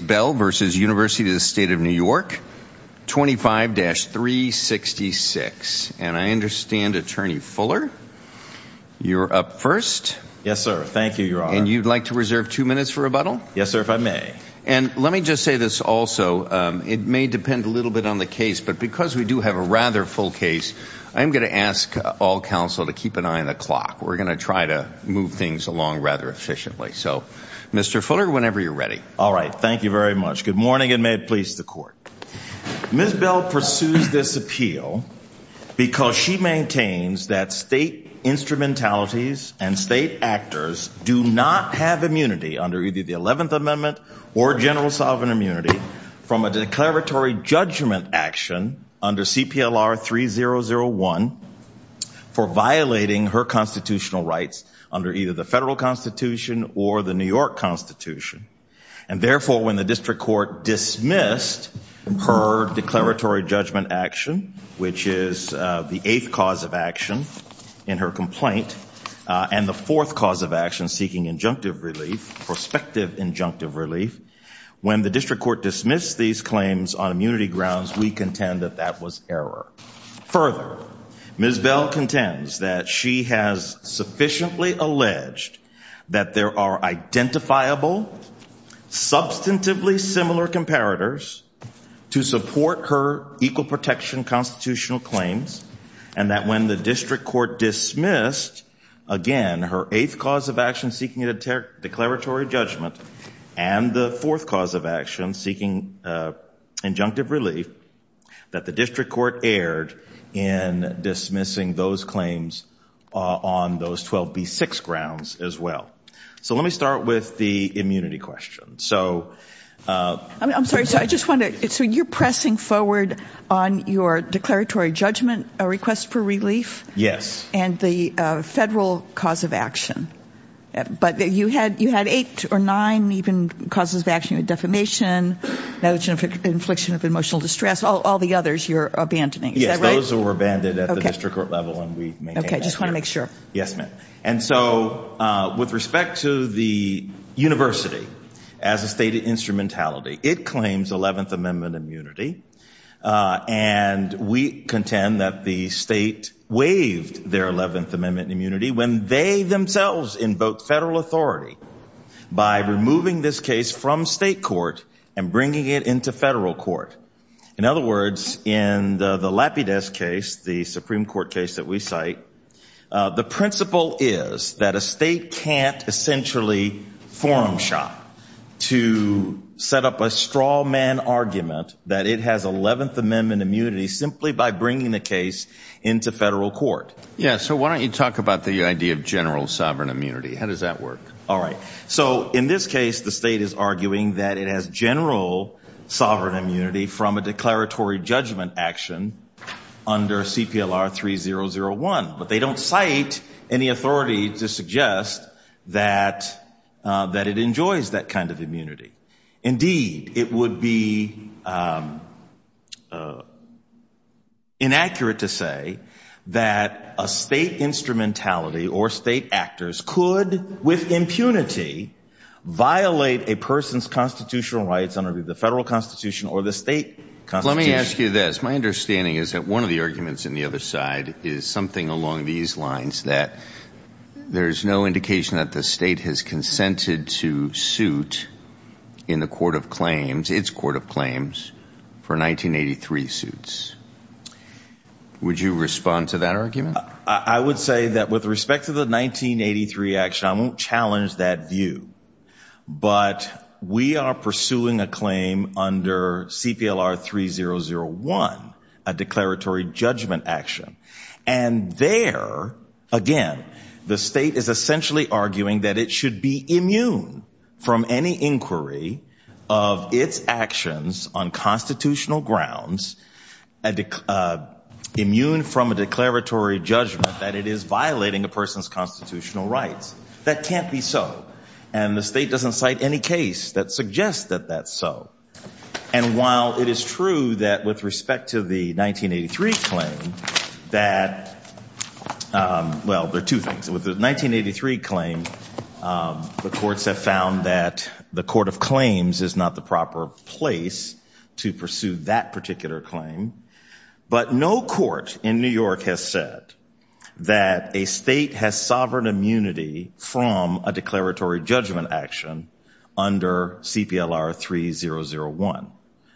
Bell v. University of the State of New York, 25-366. And I understand, Attorney Fuller, you're up first. Yes, sir. Thank you, Your Honor. And you'd like to reserve two minutes for rebuttal? Yes, sir, if I may. And let me just say this also, it may depend a little bit on the case, but because we do have a rather full case, I'm going to ask all counsel to keep an eye on the clock. We're going to try to move things along rather efficiently. So, Mr. Fuller, whenever you're ready. All right. Thank you very much. Good morning, and may it please the Court. Ms. Bell pursues this appeal because she maintains that state instrumentalities and state actors do not have immunity under either the 11th Amendment or general sovereign immunity from a declaratory judgment action under CPLR 3001 for violating her constitutional rights under either the federal constitution or the New York constitution. And therefore, when the district court dismissed her declaratory judgment action, which is the eighth cause of action in her complaint, and the fourth cause of action, seeking injunctive relief, prospective injunctive relief, when the district court dismissed these claims on immunity grounds, we contend that that was error. Further, Ms. Bell contends that she has sufficiently alleged that there are identifiable, substantively similar comparators to support her equal protection constitutional claims, and that when the district court dismissed, again, her eighth cause of action, seeking a declaratory judgment, and the fourth cause of action, seeking injunctive relief, that the district court erred in dismissing those claims on those 12B6 grounds as well. So let me start with the immunity question. I'm sorry. So you're pressing forward on your declaratory judgment request for relief? Yes. And the federal cause of action. But you had eight or nine even causes of action, defamation, negligent infliction of emotional distress, all the others you're abandoning. Yes. Those were abandoned at the district court level, and we maintain that. Okay. Just want to make sure. Yes, ma'am. And so with respect to the university as a stated instrumentality, it claims Eleventh Amendment immunity, and we contend that the state waived their Eleventh Amendment immunity when they themselves invoked federal authority by removing this case from state court and bringing it into federal court. In other words, in the Lapides case, the Supreme Court case that we cite, the principle is that a state can't essentially forum shop to set up a straw man argument that it has Eleventh Amendment immunity simply by bringing the case into federal court. Yes. So why don't you talk about the idea of general sovereign immunity. How does that work? All right. So in this case, the state is arguing that it has general sovereign immunity from a declaratory judgment action under CPLR 3001. But they don't cite any authority to suggest that it enjoys that kind of immunity. Indeed, it would be inaccurate to say that a state instrumentality or state actors could, with impunity, violate a person's constitutional rights under the federal constitution or the state constitution. Let me ask you this. My understanding is that one of the arguments on the other side is something along these lines, that there's no indication that the state has consented to suit in the court of claims, its court of claims, for 1983 suits. Would you respond to that argument? I would say that with respect to the 1983 action, I won't challenge that view. But we are pursuing a claim under CPLR 3001, a declaratory judgment action. And there, again, the state is essentially arguing that it should be immune from any inquiry of its actions on constitutional grounds, immune from a declaratory judgment that it is violating a person's constitutional rights. That can't be so. And the state doesn't cite any case that suggests that that's so. And while it is true that with respect to the 1983 claim that, well, there are two things. With the 1983 claim, the courts have found that the court of claims is not the proper place to pursue that particular claim. But no court in New York has said that a state has sovereign immunity from a declaratory judgment action under CPLR 3001.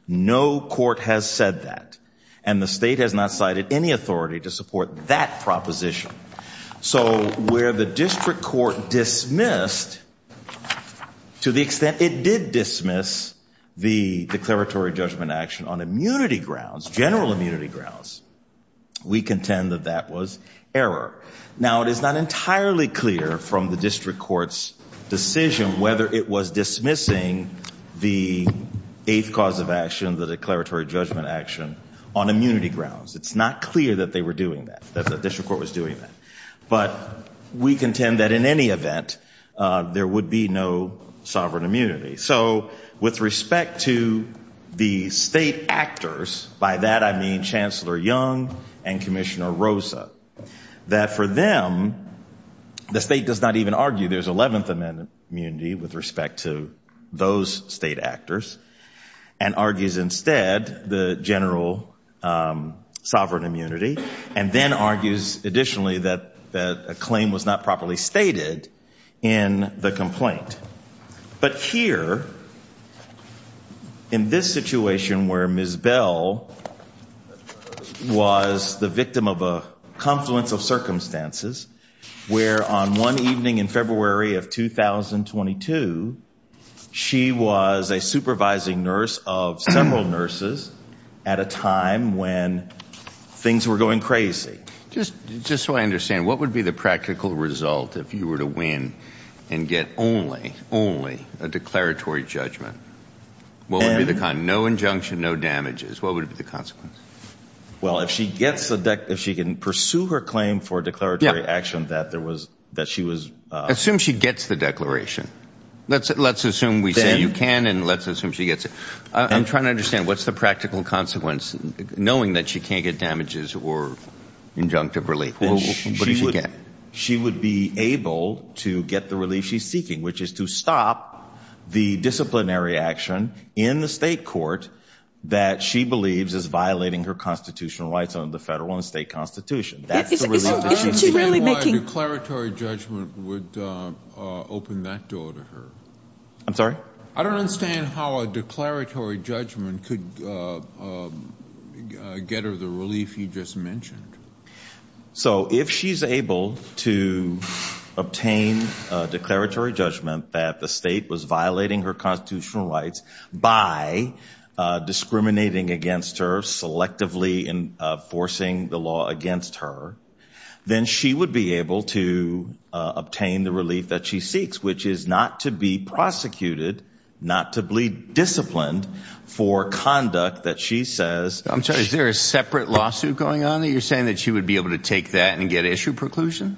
No court has said that. And the state has not cited any authority to support that proposition. So where the district court dismissed to the extent it did dismiss the declaratory judgment action on immunity grounds, general immunity grounds, we contend that that was error. Now, it is not entirely clear from the district court's decision whether it was dismissing the eighth cause of action, the declaratory judgment action, on immunity grounds. It's not clear that they were doing that, that the district court was doing that. But we contend that in any event there would be no sovereign immunity. So with respect to the state actors, by that I mean Chancellor Young and Commissioner Rosa, that for them the state does not even argue there's 11th Amendment immunity with respect to those state actors and argues instead the general sovereign immunity, and then argues additionally that a claim was not properly stated in the complaint. But here, in this situation where Ms. Bell was the victim of a confluence of circumstances, where on one evening in February of 2022 she was a supervising nurse of several nurses at a time when things were going crazy. Just so I understand, what would be the practical result if you were to win and get only, only a declaratory judgment? What would be the con, no injunction, no damages, what would be the consequence? Well, if she gets the, if she can pursue her claim for declaratory action that there was, that she was. Assume she gets the declaration. Let's assume we say you can and let's assume she gets it. I'm trying to understand, what's the practical consequence, knowing that she can't get damages or injunctive relief? What does she get? She would be able to get the relief she's seeking, which is to stop the disciplinary action in the state court that she believes is violating her constitutional rights under the federal and state constitution. Isn't she really making. I don't understand why a declaratory judgment would open that door to her. I'm sorry? I don't understand how a declaratory judgment could get her the relief you just mentioned. So, if she's able to obtain a declaratory judgment that the state was violating her constitutional rights by discriminating against her, selectively enforcing the law against her, then she would be able to obtain the relief that she seeks, which is not to be prosecuted, not to be disciplined for conduct that she says. I'm sorry, is there a separate lawsuit going on that you're saying that she would be able to take that and get issue preclusion?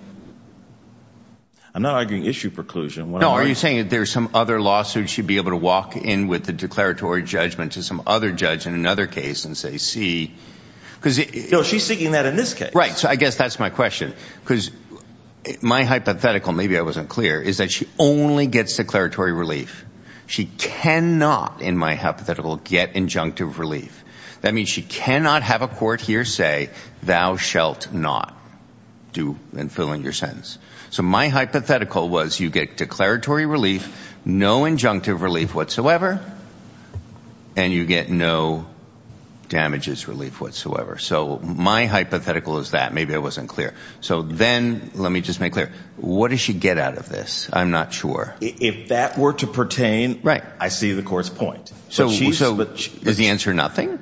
I'm not arguing issue preclusion. No, are you saying that there's some other lawsuit she'd be able to walk in with the declaratory judgment to some other judge in another case and say, see, because. No, she's seeking that in this case. Right, so I guess that's my question, because my hypothetical, maybe I wasn't clear, is that she only gets declaratory relief. She cannot, in my hypothetical, get injunctive relief. That means she cannot have a court here say, thou shalt not do and fill in your sentence. So my hypothetical was you get declaratory relief, no injunctive relief whatsoever, and you get no damages relief whatsoever. So my hypothetical is that. Maybe I wasn't clear. So then let me just make clear, what does she get out of this? I'm not sure. If that were to pertain, I see the court's point. So does the answer nothing?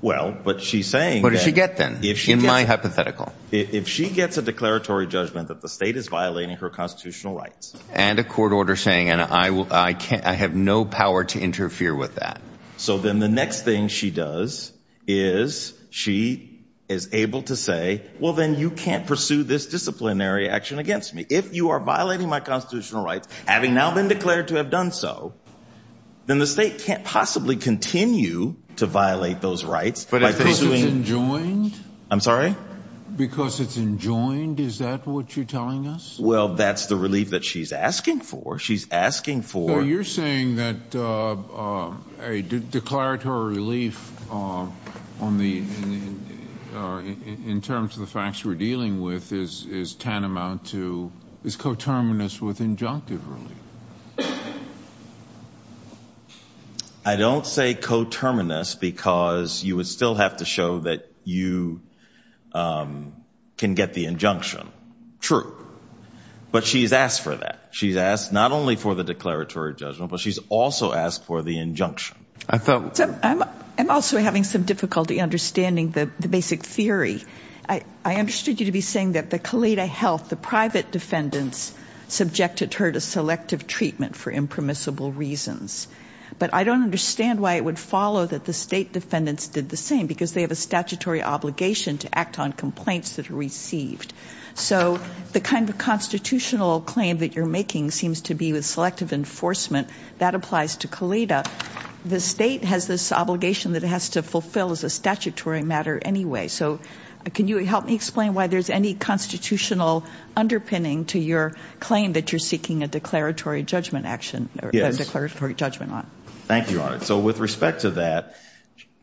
Well, but she's saying that. What does she get then in my hypothetical? If she gets a declaratory judgment that the state is violating her constitutional rights. And a court order saying I have no power to interfere with that. So then the next thing she does is she is able to say, well, then you can't pursue this disciplinary action against me. If you are violating my constitutional rights, having now been declared to have done so, then the state can't possibly continue to violate those rights. But because it's enjoined? I'm sorry? Because it's enjoined, is that what you're telling us? Well, that's the relief that she's asking for. She's asking for. Now, you're saying that a declaratory relief in terms of the facts we're dealing with is tantamount to, is coterminous with injunctive relief. I don't say coterminous because you would still have to show that you can get the injunction. True. But she's asked for that. She's asked not only for the declaratory judgment, but she's also asked for the injunction. I'm also having some difficulty understanding the basic theory. I understood you to be saying that the Caleda Health, the private defendants, subjected her to selective treatment for impermissible reasons. But I don't understand why it would follow that the state defendants did the same because they have a statutory obligation to act on complaints that are received. So the kind of constitutional claim that you're making seems to be with selective enforcement. That applies to Caleda. The state has this obligation that it has to fulfill as a statutory matter anyway. So can you help me explain why there's any constitutional underpinning to your claim that you're seeking a declaratory judgment action, a declaratory judgment on? Thank you, Your Honor. So with respect to that,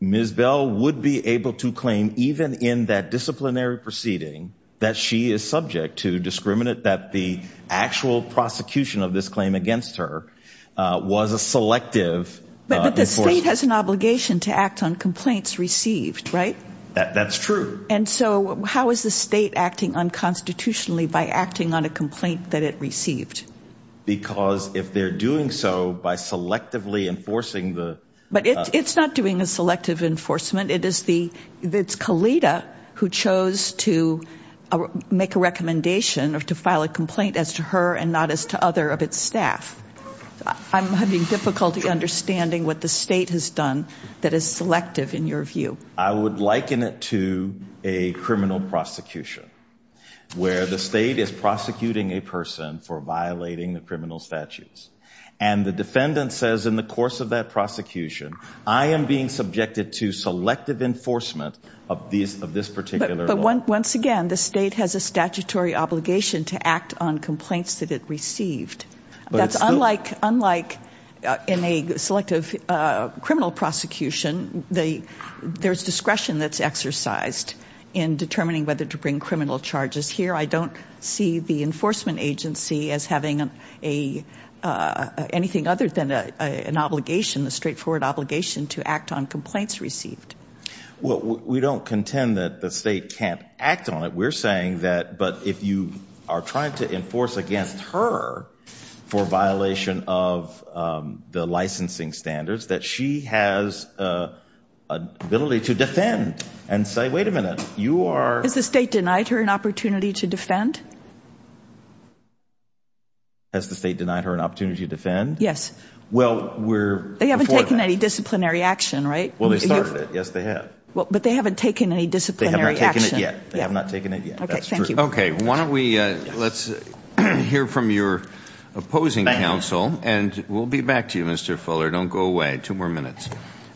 Ms. Bell would be able to claim even in that disciplinary proceeding that she is subject to discriminant that the actual prosecution of this claim against her was a selective enforcement. But the state has an obligation to act on complaints received, right? That's true. And so how is the state acting unconstitutionally by acting on a complaint that it received? Because if they're doing so by selectively enforcing the- But it's not doing a selective enforcement. It's Caleda who chose to make a recommendation or to file a complaint as to her and not as to other of its staff. I'm having difficulty understanding what the state has done that is selective in your view. I would liken it to a criminal prosecution where the state is prosecuting a person for violating the criminal statutes. And the defendant says in the course of that prosecution, I am being subjected to selective enforcement of this particular law. But once again, the state has a statutory obligation to act on complaints that it received. That's unlike in a selective criminal prosecution. There's discretion that's exercised in determining whether to bring criminal charges. Here I don't see the enforcement agency as having anything other than an obligation, a straightforward obligation to act on complaints received. Well, we don't contend that the state can't act on it. We're saying that, but if you are trying to enforce against her for violation of the licensing standards, that she has an ability to defend and say, wait a minute, you are- Has the state denied her an opportunity to defend? Has the state denied her an opportunity to defend? Yes. Well, we're- They haven't taken any disciplinary action, right? Well, they started it. Yes, they have. But they haven't taken any disciplinary action. They have not taken it yet. They have not taken it yet. Okay, thank you. Okay, why don't we let's hear from your opposing counsel. And we'll be back to you, Mr. Fuller. Don't go away. Two more minutes.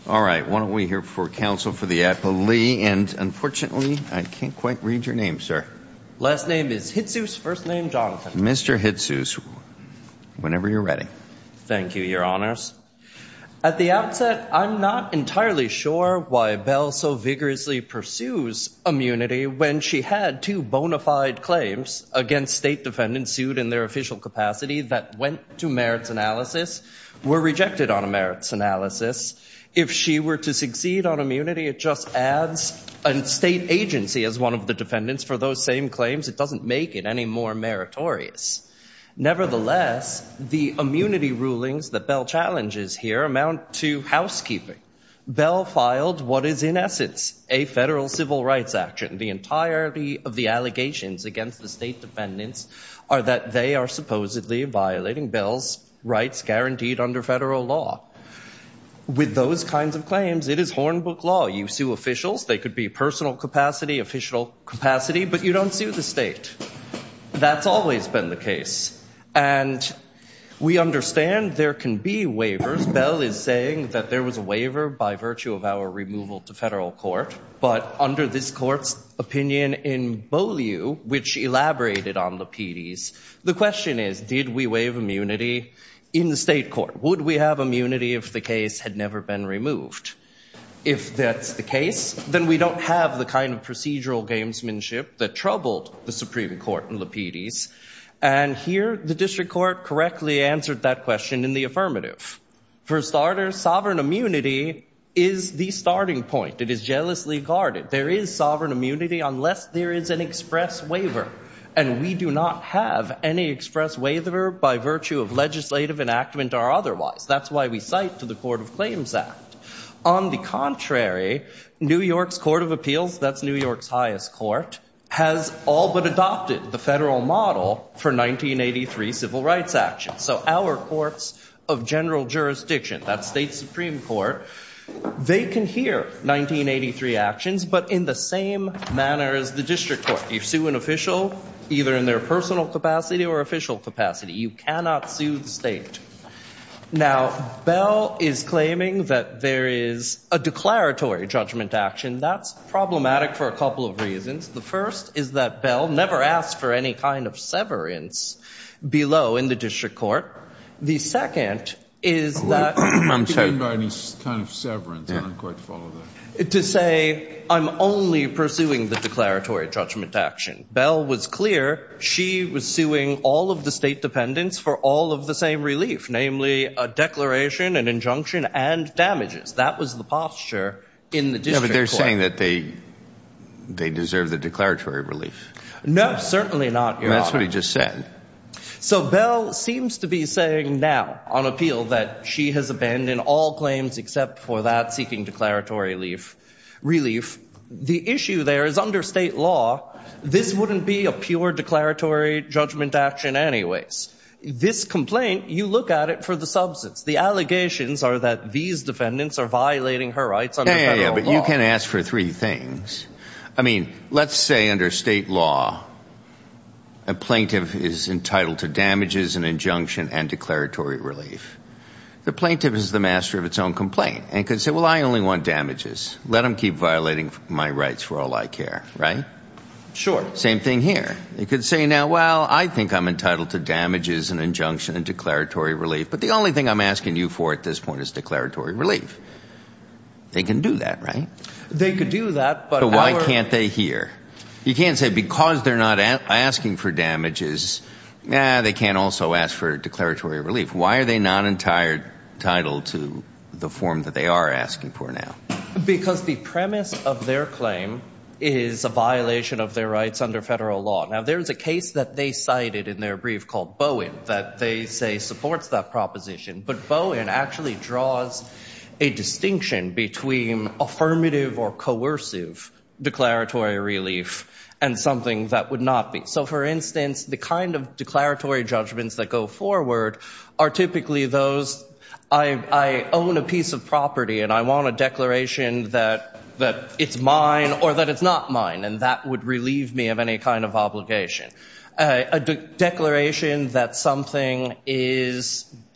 All right. Why don't we hear from counsel for the affilee. And unfortunately, I can't quite read your name, sir. Last name is Hitsous. First name, Jonathan. Mr. Hitsous, whenever you're ready. Thank you, Your Honors. At the outset, I'm not entirely sure why Bell so vigorously pursues immunity when she had two bona fide claims against state defendants sued in their official capacity that went to merits analysis, were rejected on a merits analysis. If she were to succeed on immunity, it just adds a state agency as one of the defendants for those same claims. It doesn't make it any more meritorious. Nevertheless, the immunity rulings that Bell challenges here amount to housekeeping. Bell filed what is in essence a federal civil rights action. The entirety of the allegations against the state defendants are that they are supposedly violating Bell's rights guaranteed under federal law. With those kinds of claims, it is hornbook law. You sue officials. They could be personal capacity, official capacity, but you don't sue the state. That's always been the case. And we understand there can be waivers. Bell is saying that there was a waiver by virtue of our removal to federal court. But under this court's opinion in Beaulieu, which elaborated on the PDs, the question is, did we waive immunity in the state court? Would we have immunity if the case had never been removed? If that's the case, then we don't have the kind of procedural gamesmanship that troubled the Supreme Court in the PDs. And here, the district court correctly answered that question in the affirmative. For starters, sovereign immunity is the starting point. It is jealously guarded. There is sovereign immunity unless there is an express waiver. And we do not have any express waiver by virtue of legislative enactment or otherwise. That's why we cite to the Court of Claims Act. On the contrary, New York's Court of Appeals, that's New York's highest court, has all but adopted the federal model for 1983 civil rights actions. So our courts of general jurisdiction, that's state supreme court, they can hear 1983 actions, but in the same manner as the district court. You sue an official, either in their personal capacity or official capacity. You cannot sue the state. Now, Bell is claiming that there is a declaratory judgment action. That's problematic for a couple of reasons. The first is that Bell never asked for any kind of severance below in the district court. The second is that to say I'm only pursuing the declaratory judgment action. Bell was clear she was suing all of the state dependents for all of the same relief, namely a declaration, an injunction, and damages. That was the posture in the district court. Yeah, but they're saying that they deserve the declaratory relief. No, certainly not, Your Honor. That's what he just said. So Bell seems to be saying now on appeal that she has abandoned all claims except for that seeking declaratory relief. The issue there is under state law, this wouldn't be a pure declaratory judgment action anyways. This complaint, you look at it for the substance. The allegations are that these defendants are violating her rights under federal law. Yeah, but you can ask for three things. I mean, let's say under state law, a plaintiff is entitled to damages, an injunction, and declaratory relief. The plaintiff is the master of its own complaint and can say, well, I only want damages. Let them keep violating my rights for all I care. Right? Same thing here. They could say now, well, I think I'm entitled to damages, an injunction, and declaratory relief, but the only thing I'm asking you for at this point is declaratory relief. They can do that, right? They could do that. But why can't they here? You can't say because they're not asking for damages, they can't also ask for declaratory relief. Why are they not entitled to the form that they are asking for now? Because the premise of their claim is a violation of their rights under federal law. Now, there is a case that they cited in their brief called Bowen that they say supports that proposition, but Bowen actually draws a distinction between affirmative or coercive declaratory relief and something that would not be. So, for instance, the kind of declaratory judgments that go forward are typically those, I own a piece of property and I want a declaration that it's mine or that it's not mine, and that would relieve me of any kind of obligation. A declaration that something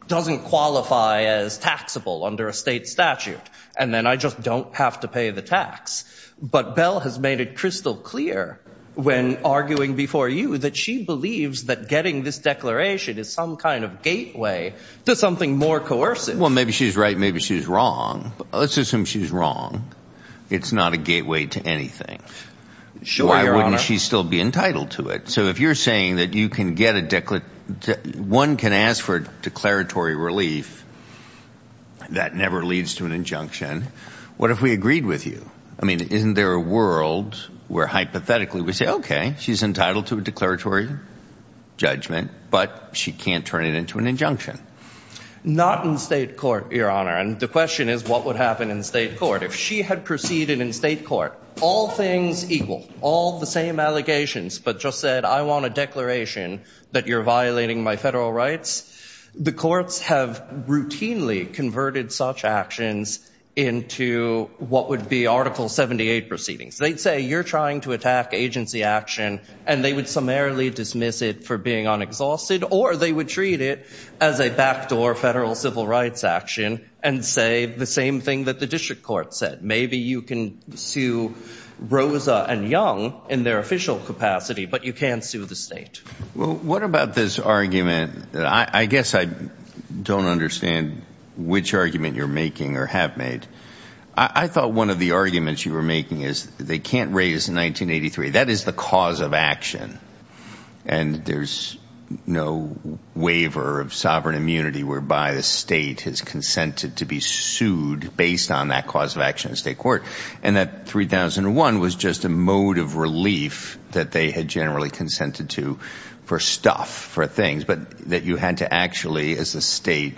doesn't qualify as taxable under a state statute, and then I just don't have to pay the tax. But Bell has made it crystal clear when arguing before you that she believes that getting this declaration is some kind of gateway to something more coercive. Well, maybe she's right, maybe she's wrong. Let's assume she's wrong. It's not a gateway to anything. Sure, Your Honor. Why wouldn't she still be entitled to it? So if you're saying that one can ask for declaratory relief, that never leads to an injunction, what if we agreed with you? I mean, isn't there a world where hypothetically we say, okay, she's entitled to a declaratory judgment, but she can't turn it into an injunction? Not in state court, Your Honor, and the question is what would happen in state court. If she had proceeded in state court, all things equal, all the same allegations, but just said, I want a declaration that you're violating my federal rights, the courts have routinely converted such actions into what would be Article 78 proceedings. They'd say you're trying to attack agency action and they would summarily dismiss it for being unexhausted or they would treat it as a backdoor federal civil rights action and say the same thing that the district court said. Maybe you can sue Rosa and Young in their official capacity, but you can't sue the state. Well, what about this argument? I guess I don't understand which argument you're making or have made. I thought one of the arguments you were making is they can't raise 1983. That is the cause of action, and there's no waiver of sovereign immunity whereby the state has consented to be sued based on that cause of action in state court, and that 3001 was just a mode of relief that they had generally consented to for stuff, for things, but that you had to actually, as a state,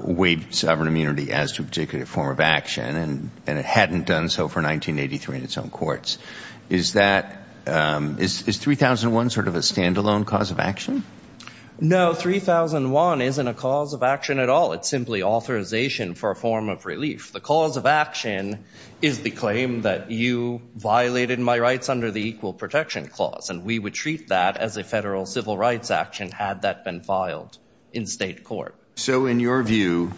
waive sovereign immunity as to a particular form of action, and it hadn't done so for 1983 in its own courts. Is 3001 sort of a standalone cause of action? No, 3001 isn't a cause of action at all. It's simply authorization for a form of relief. The cause of action is the claim that you violated my rights under the Equal Protection Clause, and we would treat that as a federal civil rights action had that been filed in state court. So in your view,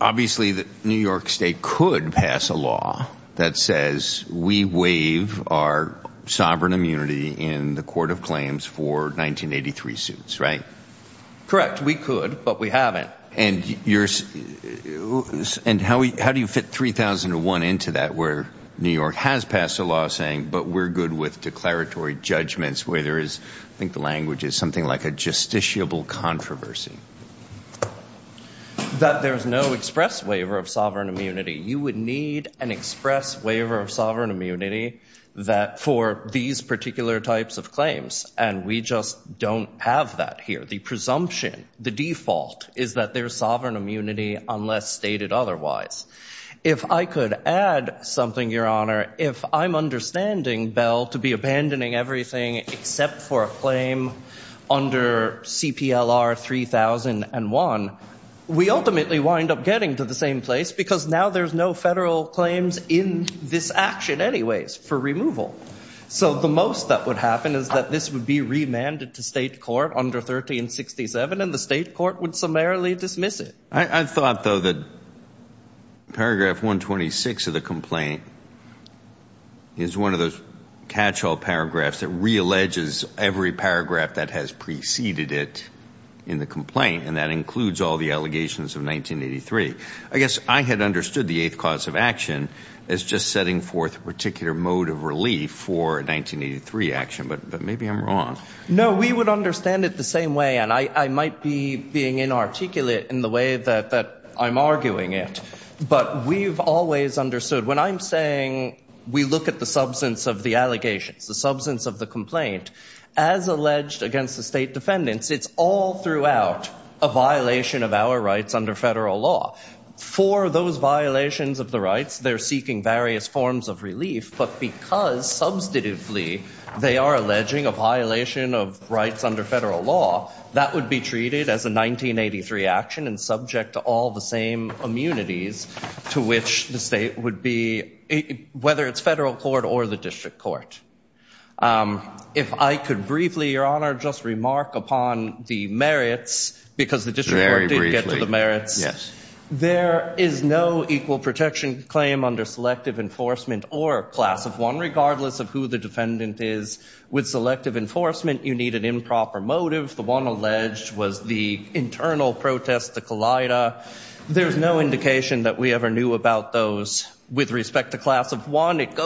obviously New York state could pass a law that says we waive our sovereign immunity in the court of claims for 1983 suits, right? Correct. We could, but we haven't. And how do you fit 3001 into that where New York has passed a law saying, but we're good with declaratory judgments where there is, I think the language is something like a justiciable controversy? That there's no express waiver of sovereign immunity. You would need an express waiver of sovereign immunity for these particular types of claims, and we just don't have that here. The presumption, the default, is that there's sovereign immunity unless stated otherwise. If I could add something, Your Honor, if I'm understanding, Bell, to be abandoning everything except for a claim under CPLR 3001, we ultimately wind up getting to the same place because now there's no federal claims in this action anyways for removal. So the most that would happen is that this would be remanded to state court under 1367, and the state court would summarily dismiss it. I thought, though, that paragraph 126 of the complaint is one of those catch-all paragraphs that realleges every paragraph that has preceded it in the complaint, and that includes all the allegations of 1983. I guess I had understood the eighth cause of action as just setting forth a particular mode of relief for 1983 action, but maybe I'm wrong. No, we would understand it the same way, and I might be being inarticulate in the way that I'm arguing it, but we've always understood. When I'm saying we look at the substance of the allegations, the substance of the complaint, as alleged against the state defendants, it's all throughout a violation of our rights under federal law. For those violations of the rights, they're seeking various forms of relief, but because, substantively, they are alleging a violation of rights under federal law, that would be treated as a 1983 action and subject to all the same immunities to which the state would be, whether it's federal court or the district court. If I could briefly, Your Honor, just remark upon the merits, because the district court didn't get to the merits. There is no equal protection claim under Selective Enforcement or Class of 1, regardless of who the defendant is. With Selective Enforcement, you need an improper motive. The one alleged was the internal protest, the collider. There's no indication that we ever knew about those. With respect to Class of 1, it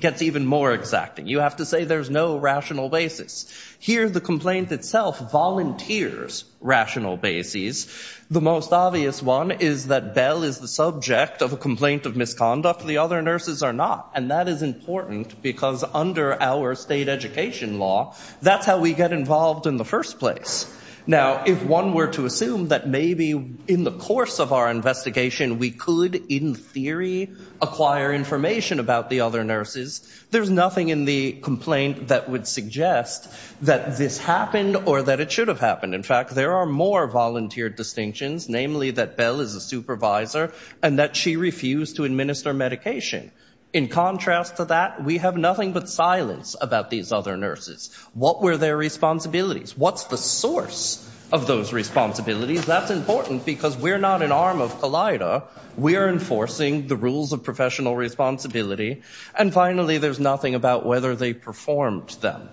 gets even more exacting. You have to say there's no rational basis. Here, the complaint itself volunteers rational basis. The most obvious one is that Bell is the subject of a complaint of misconduct. The other nurses are not, and that is important, because under our state education law, that's how we get involved in the first place. Now, if one were to assume that maybe in the course of our investigation, we could, in theory, acquire information about the other nurses, there's nothing in the complaint that would suggest that this happened or that it should have happened. In fact, there are more volunteered distinctions, namely that Bell is a supervisor and that she refused to administer medication. In contrast to that, we have nothing but silence about these other nurses. What were their responsibilities? What's the source of those responsibilities? That's important because we're not an arm of COLLIDA. We are enforcing the rules of professional responsibility. And finally, there's nothing about whether they performed them.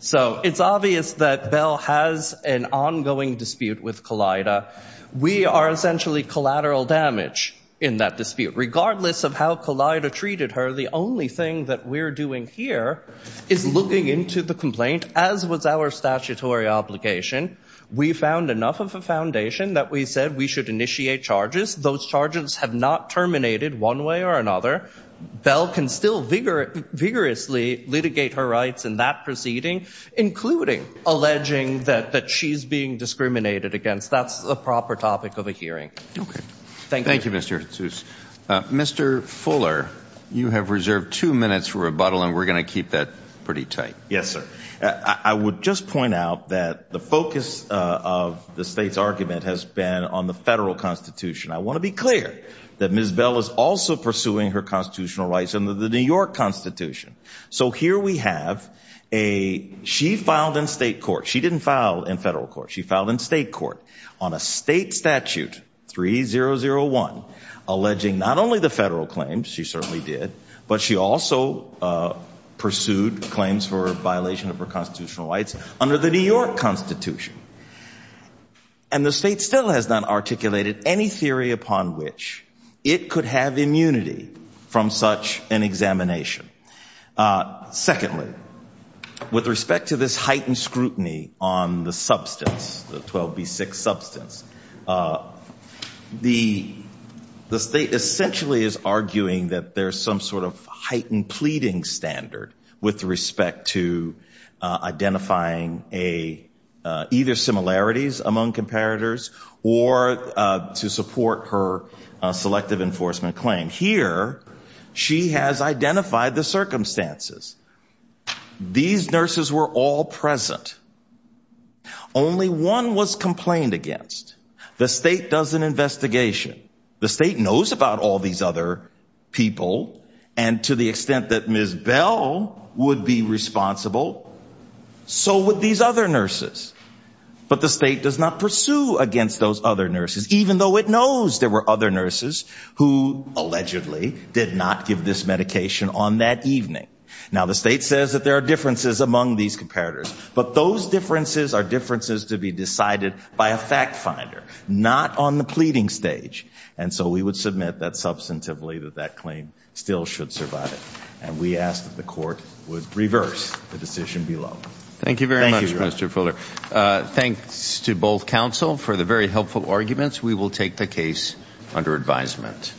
So it's obvious that Bell has an ongoing dispute with COLLIDA. We are essentially collateral damage in that dispute. Regardless of how COLLIDA treated her, the only thing that we're doing here is looking into the complaint, as was our statutory obligation. We found enough of a foundation that we said we should initiate charges. Those charges have not terminated one way or another. Bell can still vigorously litigate her rights in that proceeding, including alleging that she's being discriminated against. That's the proper topic of a hearing. Okay. Thank you. Thank you, Mr. Sous. Mr. Fuller, you have reserved two minutes for rebuttal, and we're going to keep that pretty tight. Yes, sir. I would just point out that the focus of the state's argument has been on the federal Constitution. I want to be clear that Ms. Bell is also pursuing her constitutional rights under the New York Constitution. So here we have a she filed in state court. She didn't file in federal court. She filed in state court on a state statute, 3001, alleging not only the federal claims, she certainly did, but she also pursued claims for violation of her constitutional rights under the New York Constitution. And the state still has not articulated any theory upon which it could have immunity from such an examination. Secondly, with respect to this heightened scrutiny on the substance, the 12B6 substance, the state essentially is arguing that there's some sort of heightened pleading standard with respect to identifying either similarities among comparators or to support her selective enforcement claim. Here she has identified the circumstances. These nurses were all present. Only one was complained against. The state does an investigation. The state knows about all these other people. And to the extent that Ms. Bell would be responsible, so would these other nurses. But the state does not pursue against those other nurses, even though it knows there were other nurses who allegedly did not give this medication on that evening. Now, the state says that there are differences among these comparators. But those differences are differences to be decided by a fact finder, not on the pleading stage. And so we would submit that substantively that that claim still should survive. And we ask that the court would reverse the decision below. Thank you very much, Mr. Fuller. Thanks to both counsel for the very helpful arguments. We will take the case under advisement.